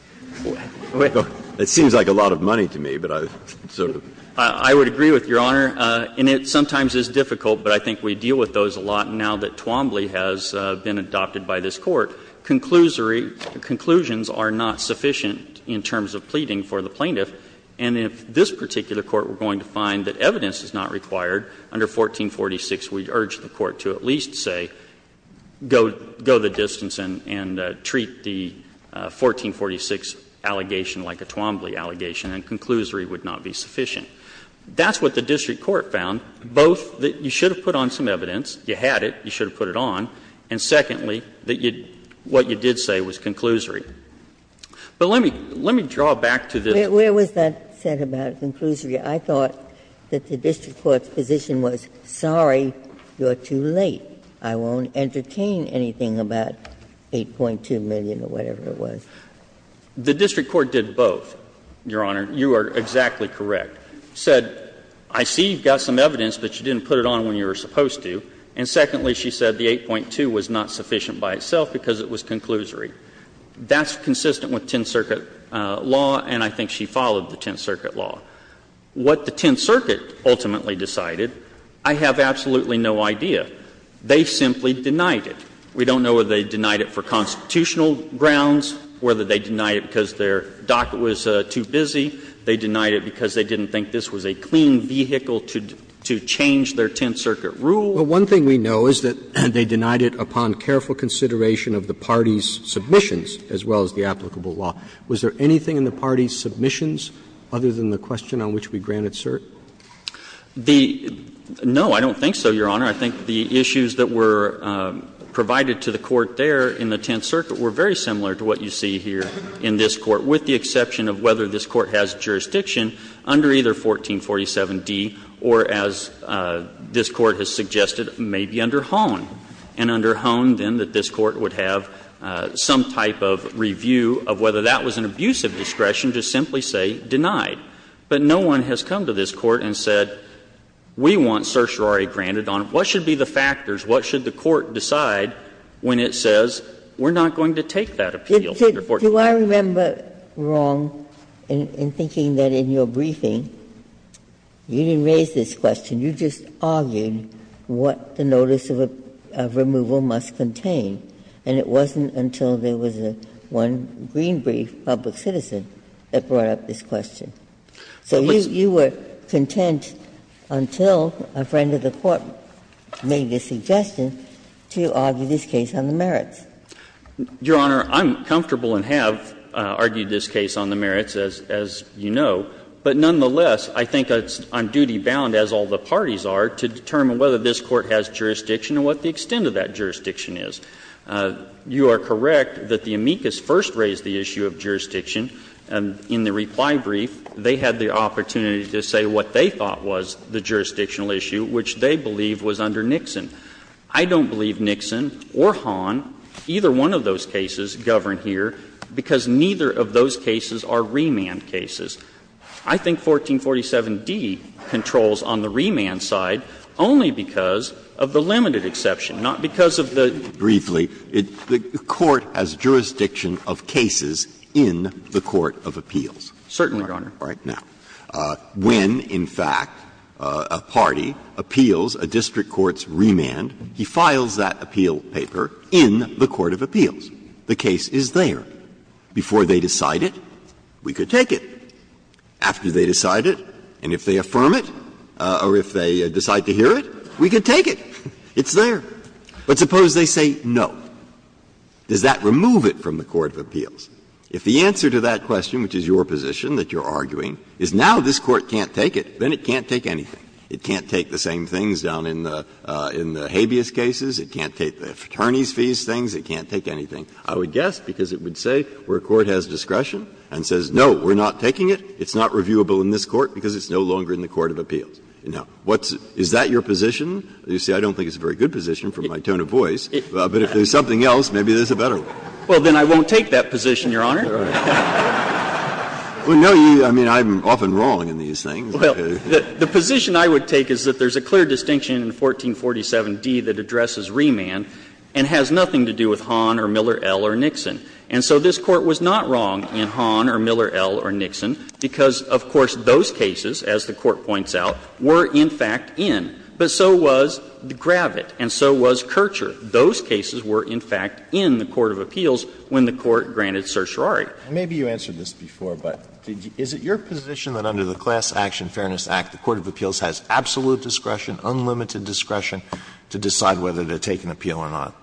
It seems like a lot of money to me, but I sort of. I would agree with Your Honor. And it sometimes is difficult, but I think we deal with those a lot now that Twombly has been adopted by this Court. Conclusory conclusions are not sufficient in terms of pleading for the plaintiff. And if this particular Court were going to find that evidence is not required, under 1446 we urge the Court to at least say go the distance and treat the 1446 allegation like a Twombly allegation, and conclusory would not be sufficient. That's what the district court found, both that you should have put on some evidence, you had it, you should have put it on, and secondly, that what you did say was conclusory. But let me draw back to the. Ginsburg. Where was that said about conclusory? I thought that the district court's position was, sorry, you're too late. I won't entertain anything about 8.2 million or whatever it was. The district court did both, Your Honor. You are exactly correct. It said, I see you've got some evidence, but you didn't put it on when you were supposed to. And secondly, she said the 8.2 was not sufficient by itself because it was conclusory. That's consistent with Tenth Circuit law, and I think she followed the Tenth Circuit law. What the Tenth Circuit ultimately decided, I have absolutely no idea. They simply denied it. We don't know whether they denied it for constitutional grounds, whether they denied it because their docket was too busy, they denied it because they didn't think this was a clean vehicle to change their Tenth Circuit rule. Roberts. Roberts. Well, one thing we know is that they denied it upon careful consideration of the party's submissions as well as the applicable law. Was there anything in the party's submissions other than the question on which we granted cert? No, I don't think so, Your Honor. I think the issues that were provided to the Court there in the Tenth Circuit were very similar to what you see here in this Court, with the exception of whether this Court has jurisdiction under either 1447d or, as this Court has suggested, maybe under Hohn. And under Hohn, then, that this Court would have some type of review of whether that was an abuse of discretion to simply say denied. But no one has come to this Court and said, we want certiorari granted on it. What should be the factors? What should the Court decide when it says we're not going to take that appeal under 1447d? Ginsburg. Do I remember wrong in thinking that in your briefing you didn't raise this question. You just argued what the notice of removal must contain. And it wasn't until there was one green brief, Public Citizen, that brought up this question. So you were content until a friend of the Court made the suggestion to argue this case on the merits. Your Honor, I'm comfortable and have argued this case on the merits, as you know. But nonetheless, I think it's on duty bound, as all the parties are, to determine whether this Court has jurisdiction and what the extent of that jurisdiction is. You are correct that the amicus first raised the issue of jurisdiction in the reply brief. They had the opportunity to say what they thought was the jurisdictional issue, which they believe was under Nixon. I don't believe Nixon or Hahn, either one of those cases, govern here, because neither of those cases are remand cases. I think 1447d controls on the remand side only because of the limited exception, not because of the ---- Breyer. Briefly, the Court has jurisdiction of cases in the court of appeals. Certainly, Your Honor. Breyer. Now, when, in fact, a party appeals a district court's remand, he files that appeal paper in the court of appeals. The case is there. Before they decide it, we could take it. After they decide it, and if they affirm it, or if they decide to hear it, we could take it. It's there. But suppose they say no. Does that remove it from the court of appeals? If the answer to that question, which is your position that you're arguing, is now this Court can't take it, then it can't take anything. It can't take the same things down in the habeas cases. It can't take the attorneys' fees things. It can't take anything. I would guess because it would say where a court has discretion and says, no, we're not taking it, it's not reviewable in this court because it's no longer in the court of appeals. Now, what's the ---- is that your position? You see, I don't think it's a very good position from my tone of voice, but if there's something else, maybe there's a better one. Well, then I won't take that position, Your Honor. Breyer. Well, no, you ---- I mean, I'm often wrong in these things. Well, the position I would take is that there's a clear distinction in 1447d that addresses remand and has nothing to do with Hahn or Miller, L. or Nixon. And so this Court was not wrong in Hahn or Miller, L. or Nixon because, of course, those cases, as the Court points out, were in fact in. But so was Gravitt and so was Kircher. Those cases were, in fact, in the court of appeals when the Court granted certiorari. And maybe you answered this before, but is it your position that under the Class Action Fairness Act, the court of appeals has absolute discretion, unlimited discretion to decide whether to take an appeal or not?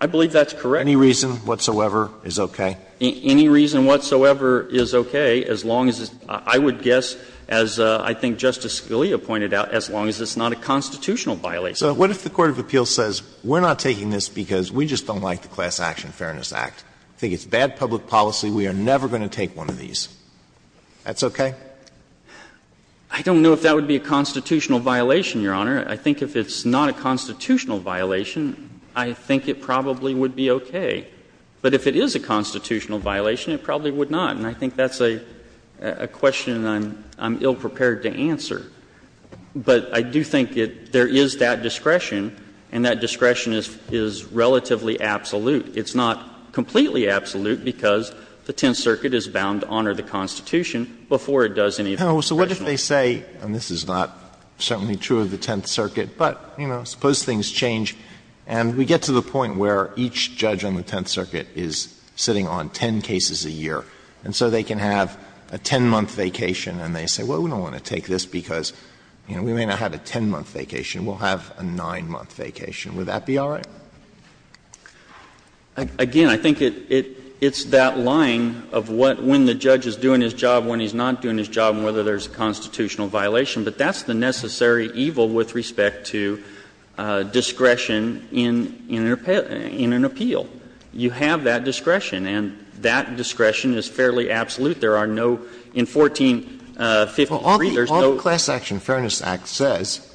I believe that's correct. Any reason whatsoever is okay? Any reason whatsoever is okay as long as it's ---- I would guess, as I think Justice Scalia pointed out, as long as it's not a constitutional violation. So what if the court of appeals says, we're not taking this because we just don't like the Class Action Fairness Act, think it's bad public policy, we are never going to take one of these? That's okay? I don't know if that would be a constitutional violation, Your Honor. I think if it's not a constitutional violation, I think it probably would be okay. But if it is a constitutional violation, it probably would not. And I think that's a question I'm ill-prepared to answer. But I do think there is that discretion, and that discretion is relatively absolute. It's not completely absolute because the Tenth Circuit is bound to honor the Constitution before it does any of the discretion. Alito, so what if they say, and this is not certainly true of the Tenth Circuit, but, you know, suppose things change and we get to the point where each judge on the Tenth Circuit is sitting on ten cases a year, and so they can have a ten-month vacation, and they say, well, we don't want to take this because, you know, we may not have a ten-month vacation, we'll have a nine-month vacation, would that be all right? Again, I think it's that line of what when the judge is doing his job, when he's not doing his job, and whether there's a constitutional violation. But that's the necessary evil with respect to discretion in an appeal. You have that discretion, and that discretion is fairly absolute. There are no, in 1453, there's no. Alito, all the Class Action Fairness Act says,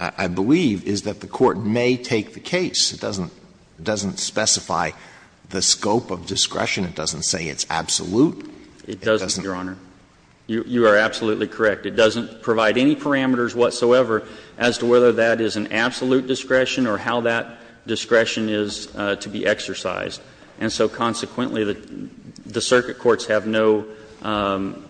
I believe, is that the Court may take the case. It doesn't specify the scope of discretion. It doesn't say it's absolute. It doesn't. It doesn't, Your Honor. You are absolutely correct. It doesn't provide any parameters whatsoever as to whether that is an absolute discretion or how that discretion is to be exercised. And so, consequently, the circuit courts have no,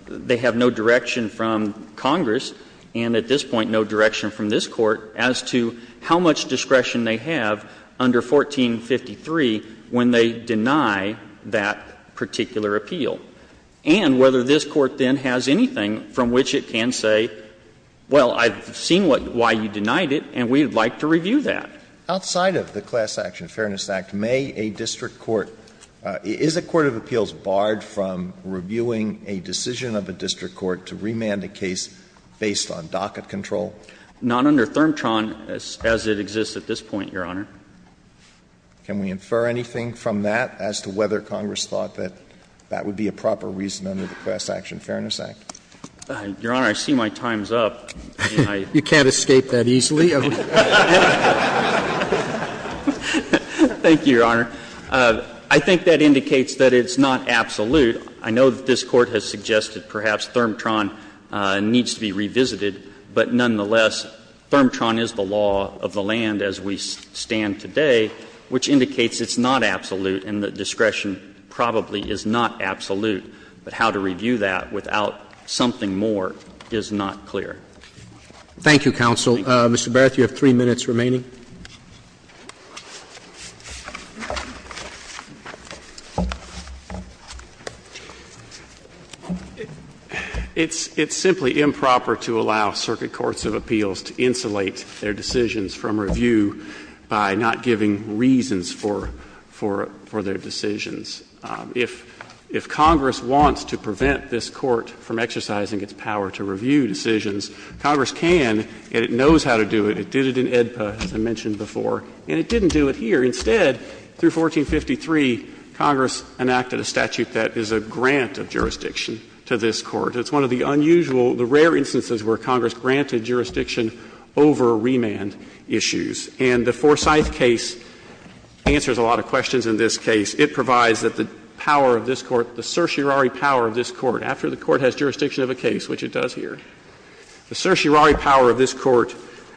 they have no direction from Congress and, at this point, no direction from this Court as to how much discretion they have under 1453 when they deny that particular appeal, and whether this Court then has anything from which it can say, well, I've seen why you denied it and we'd like to review that. Alito, outside of the Class Action Fairness Act, may a district court – is a court of appeals barred from reviewing a decision of a district court to remand a case based on docket control? Not under ThermTron as it exists at this point, Your Honor. Can we infer anything from that as to whether Congress thought that that would be a proper reason under the Class Action Fairness Act? Your Honor, I see my time's up. You can't escape that easily. Thank you, Your Honor. I think that indicates that it's not absolute. I know that this Court has suggested perhaps ThermTron needs to be revisited, but nonetheless, ThermTron is the law of the land as we stand today, which indicates it's not absolute and that discretion probably is not absolute. But how to review that without something more is not clear. Thank you. Thank you, counsel. Mr. Barrett, you have three minutes remaining. It's simply improper to allow circuit courts of appeals to insulate their decisions from review by not giving reasons for their decisions. If Congress wants to prevent this Court from exercising its power to review decisions, Congress can, and it knows how to do it. It did it in AEDPA, as I mentioned before, and it didn't do it here. Instead, through 1453, Congress enacted a statute that is a grant of jurisdiction to this Court. It's one of the unusual, the rare instances where Congress granted jurisdiction over remand issues. And the Forsyth case answers a lot of questions in this case. It provides that the power of this Court, the certiorari power of this Court, after the Court has jurisdiction of a case, which it does here. The certiorari power of this Court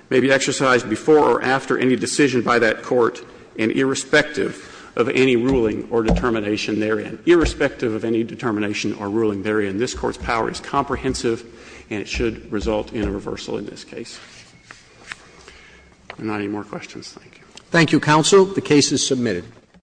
may be exercised before or after any decision by that Court and irrespective of any ruling or determination therein. Irrespective of any determination or ruling therein, this Court's power is comprehensive and it should result in a reversal in this case. If there are not any more questions, thank you. Thank you, counsel. The case is submitted.